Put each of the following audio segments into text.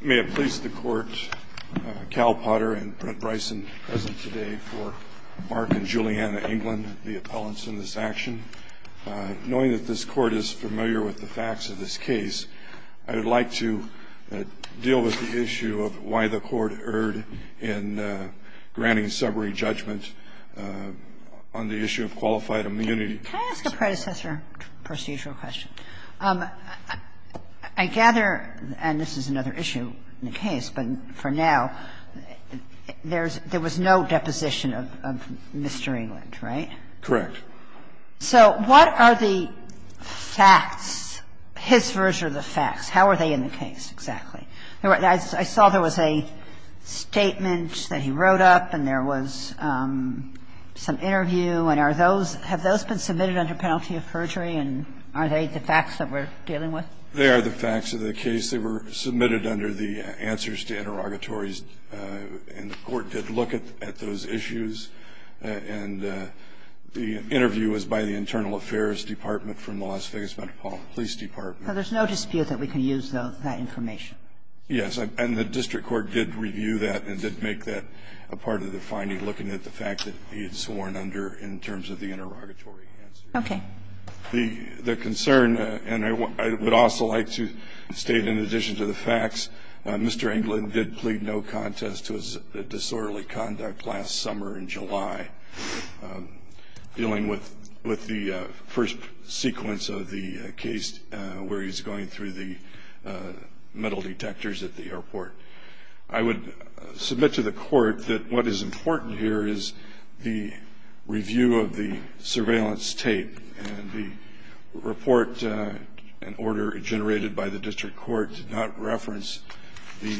May it please the Court, Cal Potter and Brent Bryson present today for Mark and Juliana England, the appellants in this action. Knowing that this Court is familiar with the facts of this case, I would like to deal with the issue of why the Court erred in granting summary judgment on the issue of qualified immunity. Can I ask a predecessor procedural question? I gather, and this is another issue in the case, but for now, there's – there was no deposition of Mr. England, right? Correct. So what are the facts, his version of the facts? How are they in the case exactly? I saw there was a statement that he wrote up and there was some interview. And are those – have those been submitted under penalty of perjury, and are they the facts that we're dealing with? They are the facts of the case. They were submitted under the Answers to Interrogatories, and the Court did look at those issues. And the interview was by the Internal Affairs Department from the Las Vegas Metropolitan Police Department. So there's no dispute that we can use that information? Yes. And the district court did review that and did make that a part of the finding, looking at the fact that he had sworn under in terms of the interrogatory answers. Okay. The concern – and I would also like to state, in addition to the facts, Mr. England did plead no contest to his disorderly conduct last summer in July, dealing with the first sequence of the case where he's going through the metal detectors at the airport. I would submit to the Court that what is important here is the review of the surveillance tape. And the report and order generated by the district court did not reference the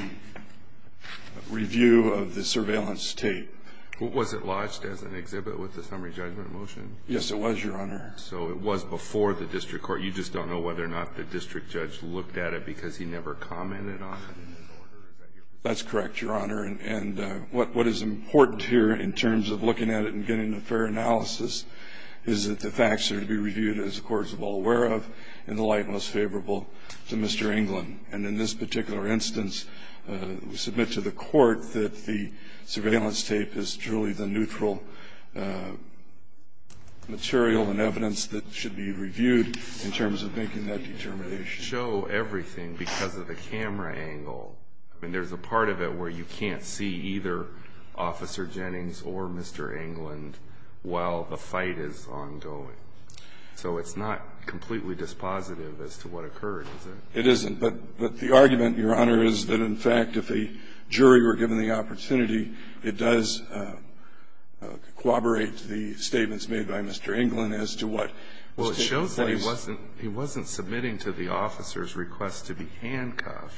review of the surveillance tape. Was it lodged as an exhibit with the summary judgment motion? Yes, it was, Your Honor. So it was before the district court. You just don't know whether or not the district judge looked at it because he never commented on the disorder? That's correct, Your Honor. And what is important here in terms of looking at it and getting a fair analysis is that the facts are to be reviewed, as the Court is well aware of, in the light most favorable to Mr. England. And in this particular instance, we submit to the Court that the surveillance tape is truly the neutral material and evidence that should be reviewed in terms of making that determination. You show everything because of the camera angle. I mean, there's a part of it where you can't see either Officer Jennings or Mr. England while the fight is ongoing. So it's not completely dispositive as to what occurred, is it? It isn't. But the argument, Your Honor, is that, in fact, if a jury were given the right to the statements made by Mr. England as to what was taking place at the time that the force was employed, they wouldn't be able to make that judgment.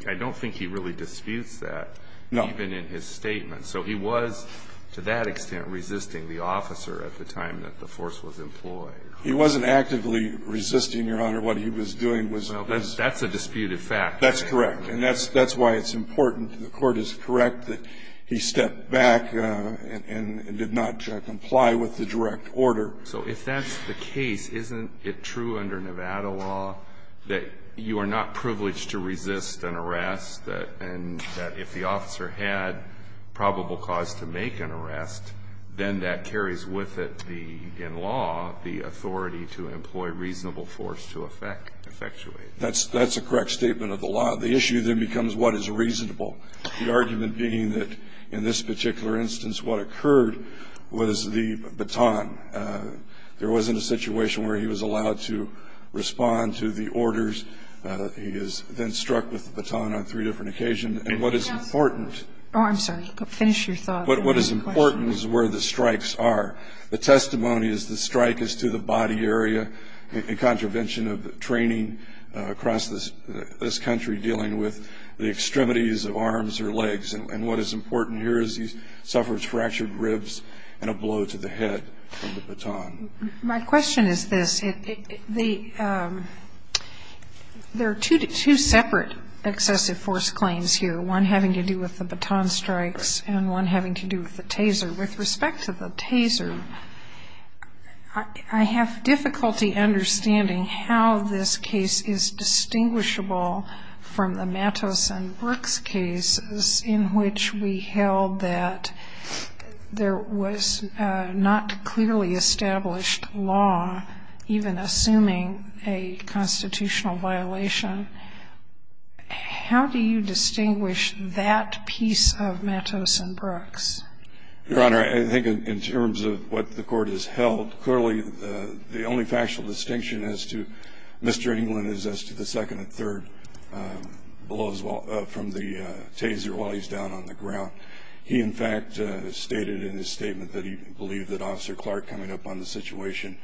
And I don't think he really disputes that, even in his statement. So he was, to that extent, resisting the officer at the time that the force was employed. He wasn't actively resisting, Your Honor. What he was doing was this. Well, that's a disputed fact. That's correct. And that's why it's important to the Court. It's correct that he stepped back and did not comply with the direct order. So if that's the case, isn't it true under Nevada law that you are not privileged to resist an arrest, and that if the officer had probable cause to make an arrest, then that carries with it the law, the authority to employ reasonable force to effectuate? That's a correct statement of the law. The issue then becomes what is reasonable, the argument being that, in this particular instance, what occurred was the baton. There wasn't a situation where he was allowed to respond to the orders. He is then struck with the baton on three different occasions. And what is important Oh, I'm sorry. Finish your thought. What is important is where the strikes are. The testimony is the strike is to the body area in contravention of the training across this country dealing with the extremities of arms or legs. And what is important here is he suffers fractured ribs and a blow to the head from the baton. My question is this. There are two separate excessive force claims here, one having to do with the baton strikes and one having to do with the taser. With respect to the case of Matos and Brooks, there is a difficulty understanding how this case is distinguishable from the Matos and Brooks cases in which we held that there was not clearly established law, even assuming a constitutional violation. How do you distinguish that piece of Matos and Brooks? Your Honor, I think in terms of what the court has held, clearly the only factual distinction as to Mr. England is as to the second and third blows from the taser while he's down on the ground. He, in fact, stated in his statement that he believed that Officer Clark coming up on the situation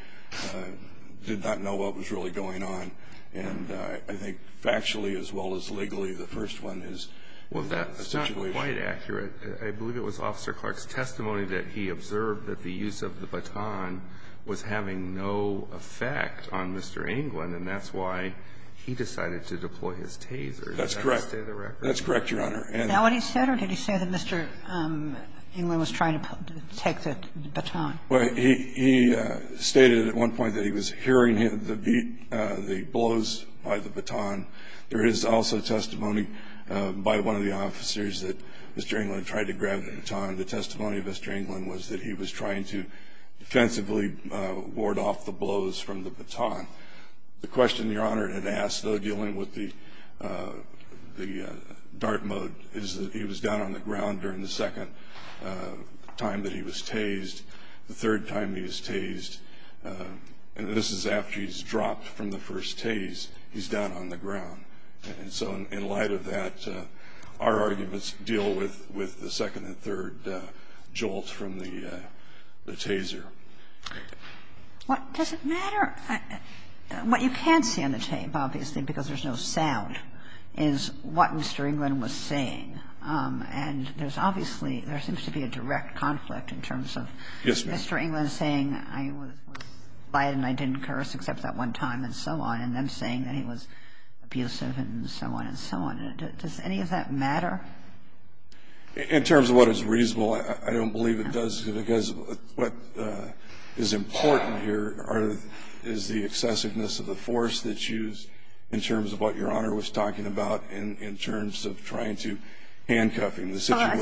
did not know what was really going on. And I think factually as well as legally, the first one is a situation Well, that's not quite accurate. I believe it was Officer Clark's testimony that he observed that the use of the baton was having no effect on Mr. England, and that's why he decided to deploy his taser. That's correct. Does that stay the record? That's correct, Your Honor. Is that what he said or did he say that Mr. England was trying to take the baton? Well, he stated at one point that he was hearing the beat, the blows by the baton. There is also testimony by one of the officers that Mr. England tried to grab the baton. The testimony of Mr. England was that he was trying to defensively ward off the blows from the baton. The question Your Honor had asked, though, dealing with the dart mode, is that he was down on the ground during the second time that he was tased, the third time he was down on the ground. And so in light of that, our arguments deal with the second and third jolts from the taser. Does it matter? What you can see on the tape, obviously, because there's no sound, is what Mr. England was saying. And there's obviously, there seems to be a direct conflict in terms of Mr. England saying, I was quiet and I didn't curse except that one time and so on, and then saying that he was abusive and so on and so on. Does any of that matter? In terms of what is reasonable, I don't believe it does, because what is important here is the excessiveness of the force that's used in terms of what Your Honor was talking about in terms of trying to handcuff him. And I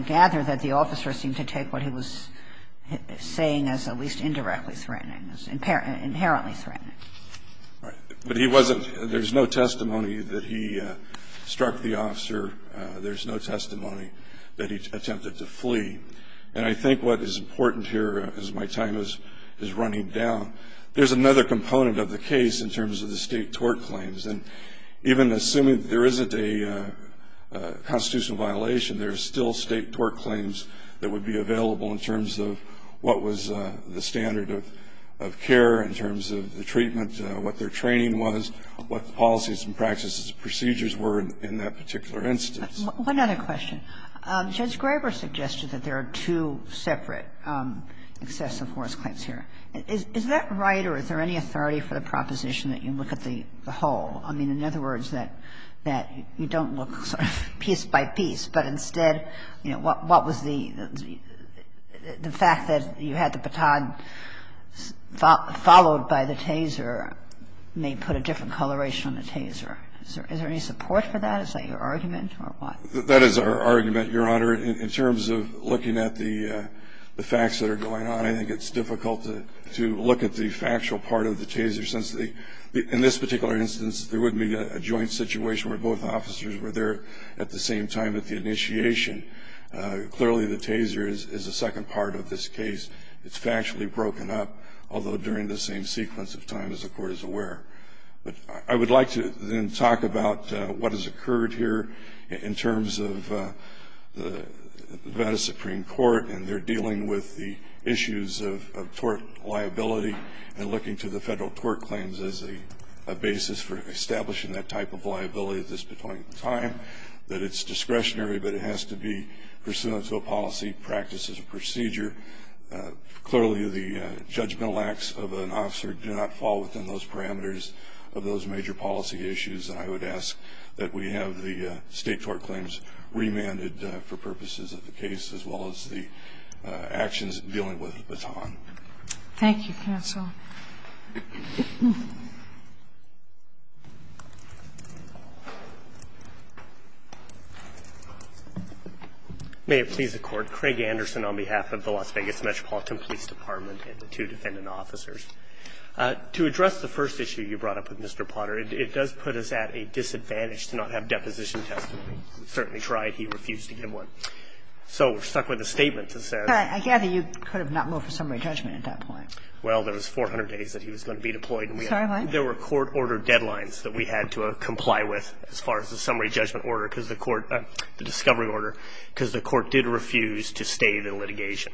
gather that the officer seemed to take what he was saying as at least indirectly threatening, as inherently threatening. Right. But he wasn't. There's no testimony that he struck the officer. There's no testimony that he attempted to flee. And I think what is important here, as my time is running down, there's another component of the case in terms of the State tort claims. And even assuming there isn't a constitutional violation, there are still State tort claims that would be available in terms of what was the standard of care, in terms of the treatment, what their training was, what the policies and practices and procedures were in that particular instance. One other question. Judge Graber suggested that there are two separate excessive force claims here. Is that right, or is there any authority for the proposition that you look at the whole? I mean, in other words, that you don't look sort of piece by piece, but instead, you know, what was the fact that you had the baton followed by the taser may put a different coloration on the taser. Is there any support for that? Is that your argument or what? That is our argument, Your Honor. In terms of looking at the facts that are going on, I think it's difficult to look at the factual part of the taser, since in this particular instance, there would be a joint situation where both officers were there at the same time at the initiation. Clearly, the taser is the second part of this case. It's factually broken up, although during the same sequence of time, as the Court is aware. But I would like to then talk about what has occurred here in terms of the Veda Supreme Court and their dealing with the issues of tort liability and looking to the federal tort claims as a basis for establishing that type of liability at this particular time, that it's discretionary, but it has to be pursuant to a policy practice as a procedure. Clearly, the judgmental acts of an officer do not fall within those parameters of those major policy issues. And I would ask that we have the state tort claims remanded for purposes of the case, as well as the actions dealing with the baton. Thank you, counsel. May it please the Court. Craig Anderson on behalf of the Las Vegas Metropolitan Police Department and the two defendant officers. To address the first issue you brought up with Mr. Potter, it does put us at a disadvantage to not have deposition testimony. We've certainly tried. He refused to give one. So we're stuck with a statement that says — But I gather you could have not moved for summary judgment at that point. Well, there was 400 days that he was going to be deployed. Sorry, what? There were court order deadlines that we had to comply with as far as the summary judgment order, because the court — the discovery order, because the court did refuse to stay the litigation,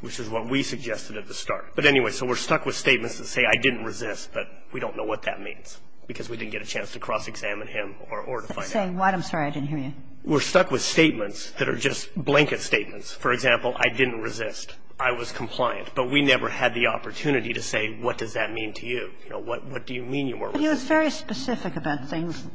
which is what we suggested at the start. But anyway, so we're stuck with statements that say, I didn't resist, but we don't know what that means, because we didn't get a chance to cross-examine him or to find out. Say what? I'm sorry. I didn't hear you. We're stuck with statements that are just blanket statements. For example, I didn't resist. I was compliant. But we never had the opportunity to say, what does that mean to you? You know, what do you mean you weren't resisting? But he was very specific about things —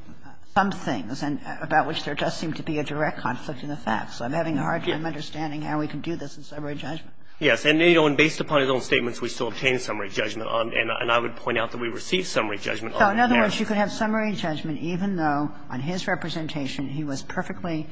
some things, and about which there does seem to be a direct conflict in the facts. I'm having a hard time understanding how we can do this in summary judgment. Yes. And, you know, and based upon his own statements, we still obtained summary judgment on it, and I would point out that we received summary judgment on it. So in other words, you could have summary judgment even though on his representation he was perfectly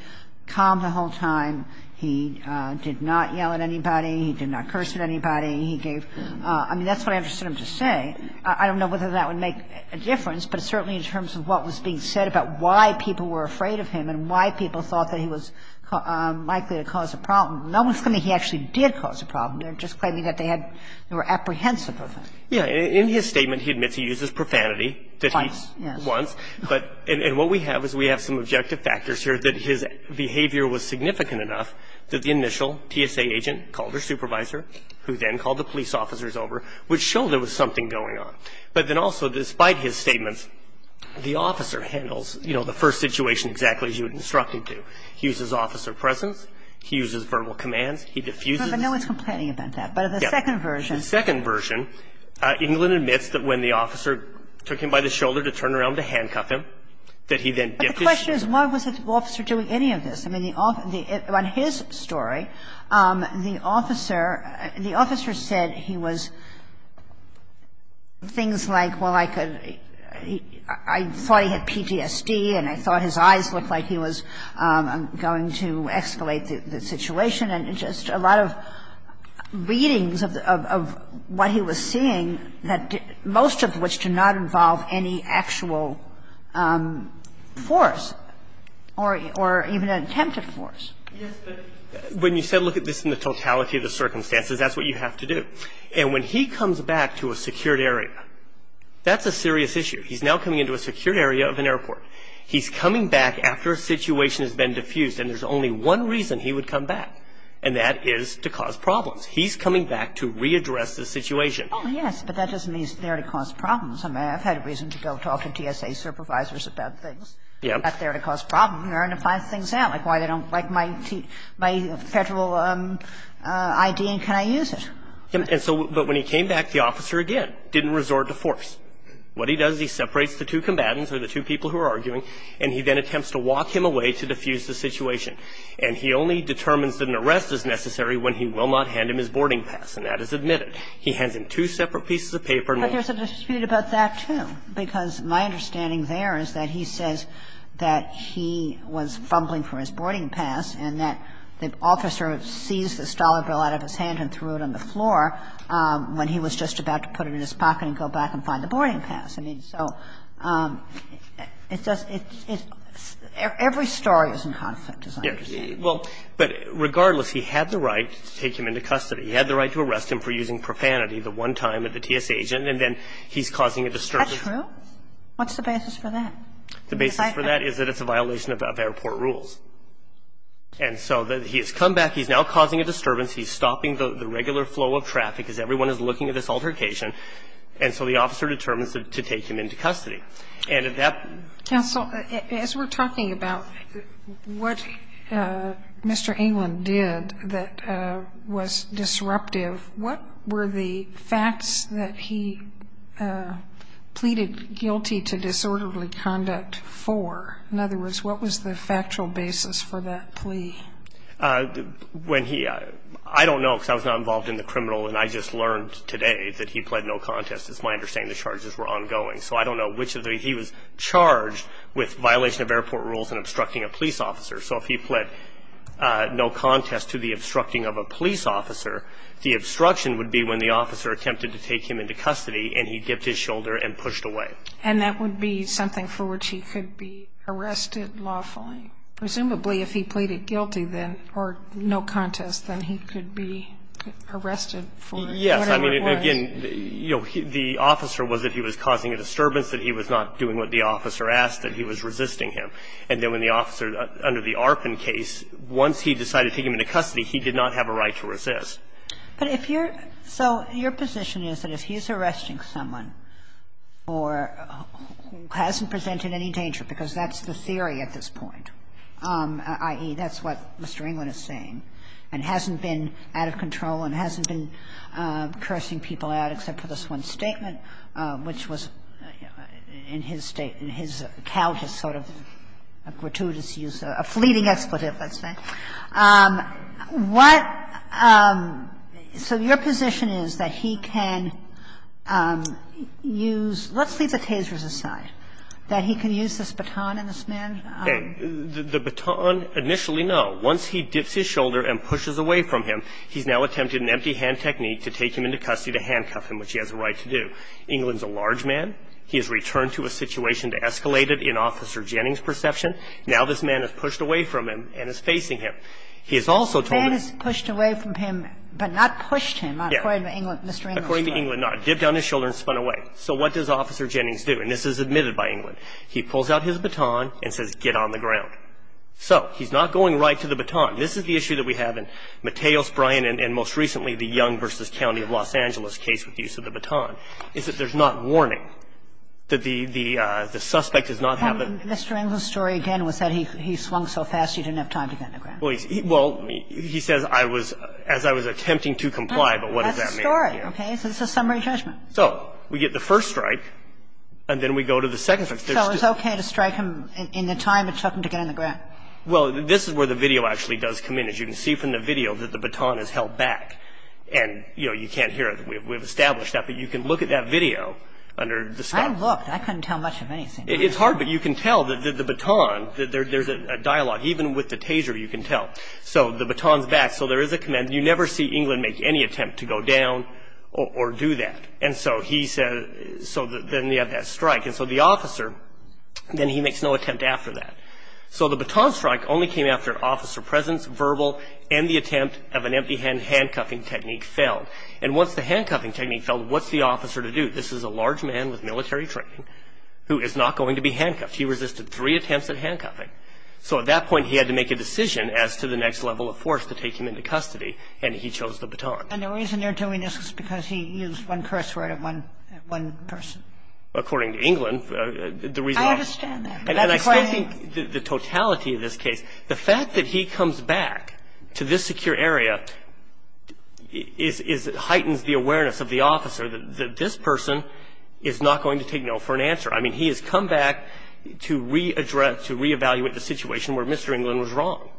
calm the whole time, he did not yell at anybody, he did not curse at anybody, he gave — I mean, that's what I understood him to say. I don't know whether that would make a difference, but certainly in terms of what was being said about why people were afraid of him and why people thought that he was likely to cause a problem, no one's claiming he actually did cause a problem. They're just claiming that they had — they were apprehensive of him. Yeah. In his statement, he admits he uses profanity. Twice, yes. Once. But — and what we have is we have some objective factors here that his behavior was significant enough that the initial TSA agent called their supervisor, who then called the police officers over, which showed there was something going on. But then also, despite his statements, the officer handles, you know, the first situation exactly as you instructed to. He uses officer presence, he uses verbal commands, he diffuses. But no one's complaining about that. Yeah. But in the second version. In the second version, England admits that when the officer took him by the shoulder to turn around to handcuff him, that he then diffused. But the question is, why was the officer doing any of this? I mean, the — on his story, the officer — the officer said he was — things like, well, I could — I thought he had PTSD and I thought his eyes looked like He was the subject of a series of readings of the — of what he was seeing, most of which do not involve any actual force or even an attempt at force. Yes, but when you said look at this in the totality of the circumstances, that's what you have to do. And when he comes back to a secured area, that's a serious issue. He's now coming into a secured area of an airport. He's coming back after a situation has been diffused, and there's only one reason he would come back. And that is to cause problems. He's coming back to readdress the situation. Oh, yes, but that doesn't mean he's there to cause problems. I mean, I've had reason to go talk to TSA supervisors about things. Yeah. They're not there to cause problems. They're there to find things out, like why they don't like my — my Federal ID and can I use it? And so — but when he came back, the officer, again, didn't resort to force. What he does, he separates the two combatants or the two people who are arguing, and he then attempts to walk him away to diffuse the situation. And he only determines that an arrest is necessary when he will not hand him his boarding pass. And that is admitted. He hands him two separate pieces of paper and — But there's a dispute about that, too, because my understanding there is that he says that he was fumbling for his boarding pass and that the officer seized this dollar bill out of his hand and threw it on the floor when he was just about to put it in his pocket and go back and find the boarding pass. That's the case. He can't take him into custody. But he can't take him into custody. And that's the case. But regardless, he had the right to take him into custody. He had the right to arrest him for using profanity the one time at the TSA agent, and then he's causing a disturbance. That's true. What's the basis for that? The basis for that is that it's a violation of airport rules. And so he has come back. He's now causing a disturbance. He's stopping the regular flow of traffic as everyone is looking at this altercation. And so the officer determines to take him into custody. And if that — Counsel, as we're talking about what Mr. Englund did that was disruptive, what were the facts that he pleaded guilty to disorderly conduct for? In other words, what was the factual basis for that plea? When he — I don't know because I was not involved in the criminal. And I just learned today that he pled no contest. It's my understanding the charges were ongoing. So I don't know which of the — he was charged with violation of airport rules and obstructing a police officer. So if he pled no contest to the obstructing of a police officer, the obstruction would be when the officer attempted to take him into custody and he dipped his shoulder and pushed away. And that would be something for which he could be arrested lawfully? Presumably if he pleaded guilty, then, or no contest, then he could be arrested for whatever it was. Yes. I mean, again, you know, the officer was that he was causing a disturbance, that he was not doing what the officer asked, that he was resisting him. And then when the officer, under the Arpin case, once he decided to take him into custody, he did not have a right to resist. But if you're — so your position is that if he's arresting someone for — who hasn't presented any danger, because that's the theory at this point, i.e., that's what Mr. Englund is saying, and hasn't been out of control and hasn't been cursing people out except for this one statement, which was in his state — in his account which is sort of a gratuitous use, a fleeting expletive, let's say. What — so your position is that he can use — let's leave the tasers aside, that he can use this baton and this man — The baton, initially, no. Once he dips his shoulder and pushes away from him, he's now attempting an empty hand technique to take him into custody to handcuff him, which he has a right to do. Englund's a large man. He has returned to a situation that escalated in Officer Jennings' perception. Now this man has pushed away from him and is facing him. He has also told him — The man has pushed away from him, but not pushed him, according to Mr. Englund. According to Englund, no. Dipped down his shoulder and spun away. So what does Officer Jennings do? And this is admitted by Englund. He pulls out his baton and says, get on the ground. So he's not going right to the baton. This is the issue that we have in Mateos, Bryan, and most recently the Young v. County of Los Angeles case with the use of the baton, is that there's not warning, that the suspect does not have the — And Mr. Englund's story, again, was that he swung so fast he didn't have time to get on the ground. Well, he says I was — as I was attempting to comply, but what does that mean? That's the story, okay? So this is a summary judgment. So we get the first strike, and then we go to the second strike. So it's okay to strike him in the time it took him to get on the ground? Well, this is where the video actually does come in. You can see from the video that the baton is held back. And, you know, you can't hear it. We've established that. But you can look at that video under the — I looked. I couldn't tell much of anything. It's hard, but you can tell that the baton — there's a dialogue. Even with the taser, you can tell. So the baton's back. So there is a command. You never see Englund make any attempt to go down or do that. And so he said — so then you have that strike. And so the officer, then he makes no attempt after that. So the baton strike only came after an officer presence, verbal, and the attempt of an empty hand handcuffing technique failed. And once the handcuffing technique failed, what's the officer to do? This is a large man with military training who is not going to be handcuffed. He resisted three attempts at handcuffing. So at that point, he had to make a decision as to the next level of force to take him into custody. And he chose the baton. And the reason they're doing this is because he used one curse word at one person. According to Englund, the reason — I understand that. And I still think the totality of this case, the fact that he comes back to this secure area is — heightens the awareness of the officer that this person is not going to take no for an answer. I mean, he has come back to re-address, to reevaluate the situation where Mr. Englund was wrong.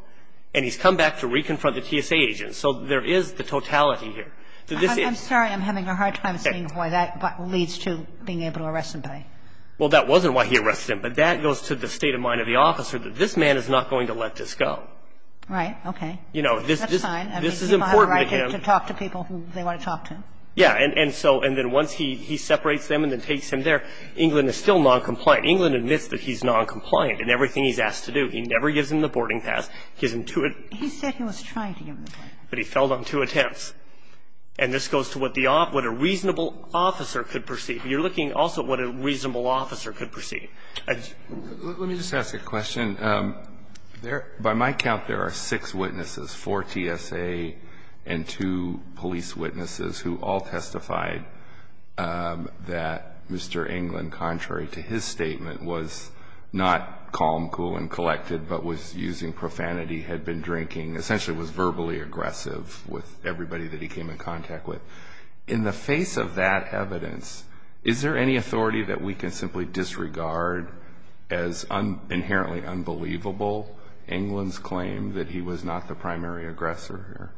And he's come back to reconfront the TSA agent. So there is the totality here. I'm sorry. I'm having a hard time seeing why that leads to being able to arrest him today. Well, that wasn't why he arrested him. But that goes to the state of mind of the officer, that this man is not going to let this go. Right. Okay. That's fine. I mean, he might have a right to talk to people who they want to talk to. Yeah. And so — and then once he separates them and then takes him there, Englund is still noncompliant. Englund admits that he's noncompliant in everything he's asked to do. He never gives him the boarding pass. He's intuitive. He said he was trying to give him the boarding pass. But he failed on two attempts. And this goes to what the — what a reasonable officer could perceive. You're looking also at what a reasonable officer could perceive. Let me just ask a question. There — by my count, there are six witnesses, four TSA and two police witnesses, who all testified that Mr. Englund, contrary to his statement, was not calm, cool, and collected, but was using profanity, had been drinking, essentially was verbally aggressive with everybody that he came in contact with. In the face of that evidence, is there any authority that we can simply disregard as inherently unbelievable Englund's claim that he was not the primary aggressor here?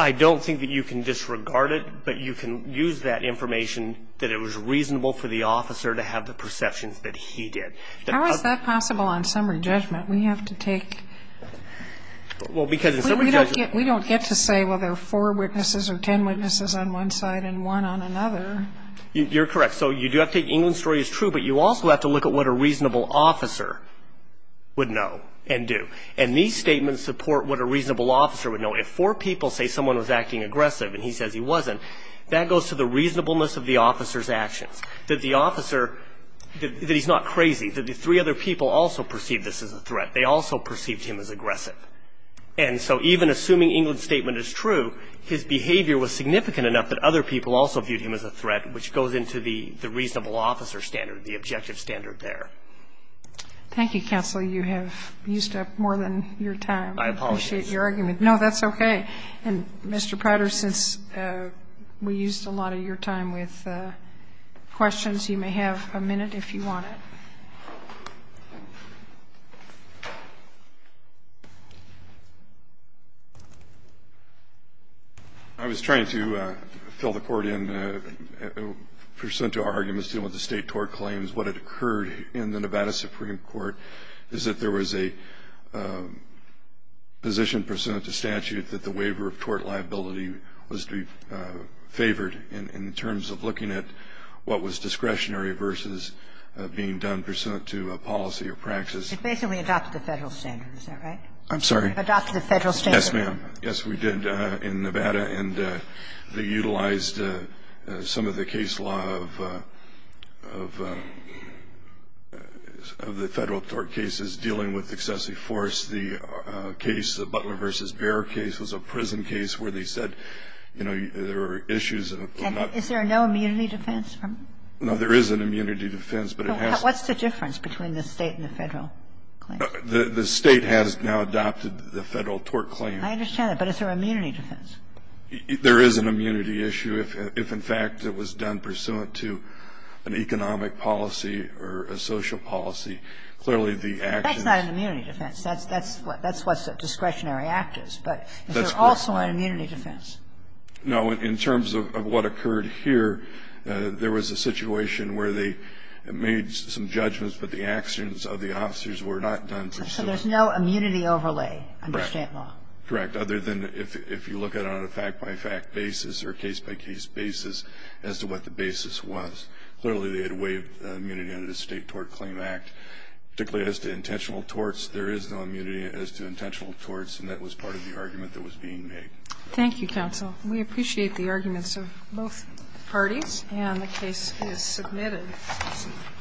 I don't think that you can disregard it, but you can use that information that it was reasonable for the officer to have the perceptions that he did. How is that possible on summary judgment? Well, because in summary judgment — We don't get to say, well, there are four witnesses or ten witnesses on one side and one on another. You're correct. So you do have to take — Englund's story is true, but you also have to look at what a reasonable officer would know and do. And these statements support what a reasonable officer would know. If four people say someone was acting aggressive and he says he wasn't, that goes to the reasonableness of the officer's actions, that the officer — that he's not crazy, that the three other people also perceived this as a threat. They also perceived him as aggressive. And so even assuming Englund's statement is true, his behavior was significant enough that other people also viewed him as a threat, which goes into the reasonable officer standard, the objective standard there. Thank you, counsel. You have used up more than your time. I apologize. I appreciate your argument. No, that's okay. And, Mr. Prater, since we used a lot of your time with questions, you may have a minute if you want it. Thank you. I was trying to fill the court in pursuant to our arguments dealing with the state tort claims. What had occurred in the Nevada Supreme Court is that there was a position pursuant to statute that the waiver of tort liability was to be favored in terms of looking at what was discretionary versus being done pursuant to a policy or practice. It basically adopted the Federal standard, is that right? I'm sorry? Adopted the Federal standard. Yes, ma'am. Yes, we did in Nevada. And they utilized some of the case law of the Federal tort cases dealing with excessive force. The case, the Butler v. Bear case, was a prison case where they said, you know, there were issues. Is there no immunity defense? No, there is an immunity defense, but it has to be. What's the difference between the State and the Federal claim? The State has now adopted the Federal tort claim. I understand that. But is there immunity defense? There is an immunity issue if, in fact, it was done pursuant to an economic policy or a social policy. Clearly, the actions. That's not an immunity defense. That's what a discretionary act is. But is there also an immunity defense? No. In terms of what occurred here, there was a situation where they made some judgments, but the actions of the officers were not done pursuant to that. So there's no immunity overlay under State law? Correct. Other than if you look at it on a fact-by-fact basis or case-by-case basis as to what the basis was. Clearly, they had waived immunity under the State Tort Claim Act. Particularly as to intentional torts, there is no immunity as to intentional torts, and that was part of the argument that was being made. Thank you, counsel. We appreciate the arguments of both parties. And the case is submitted.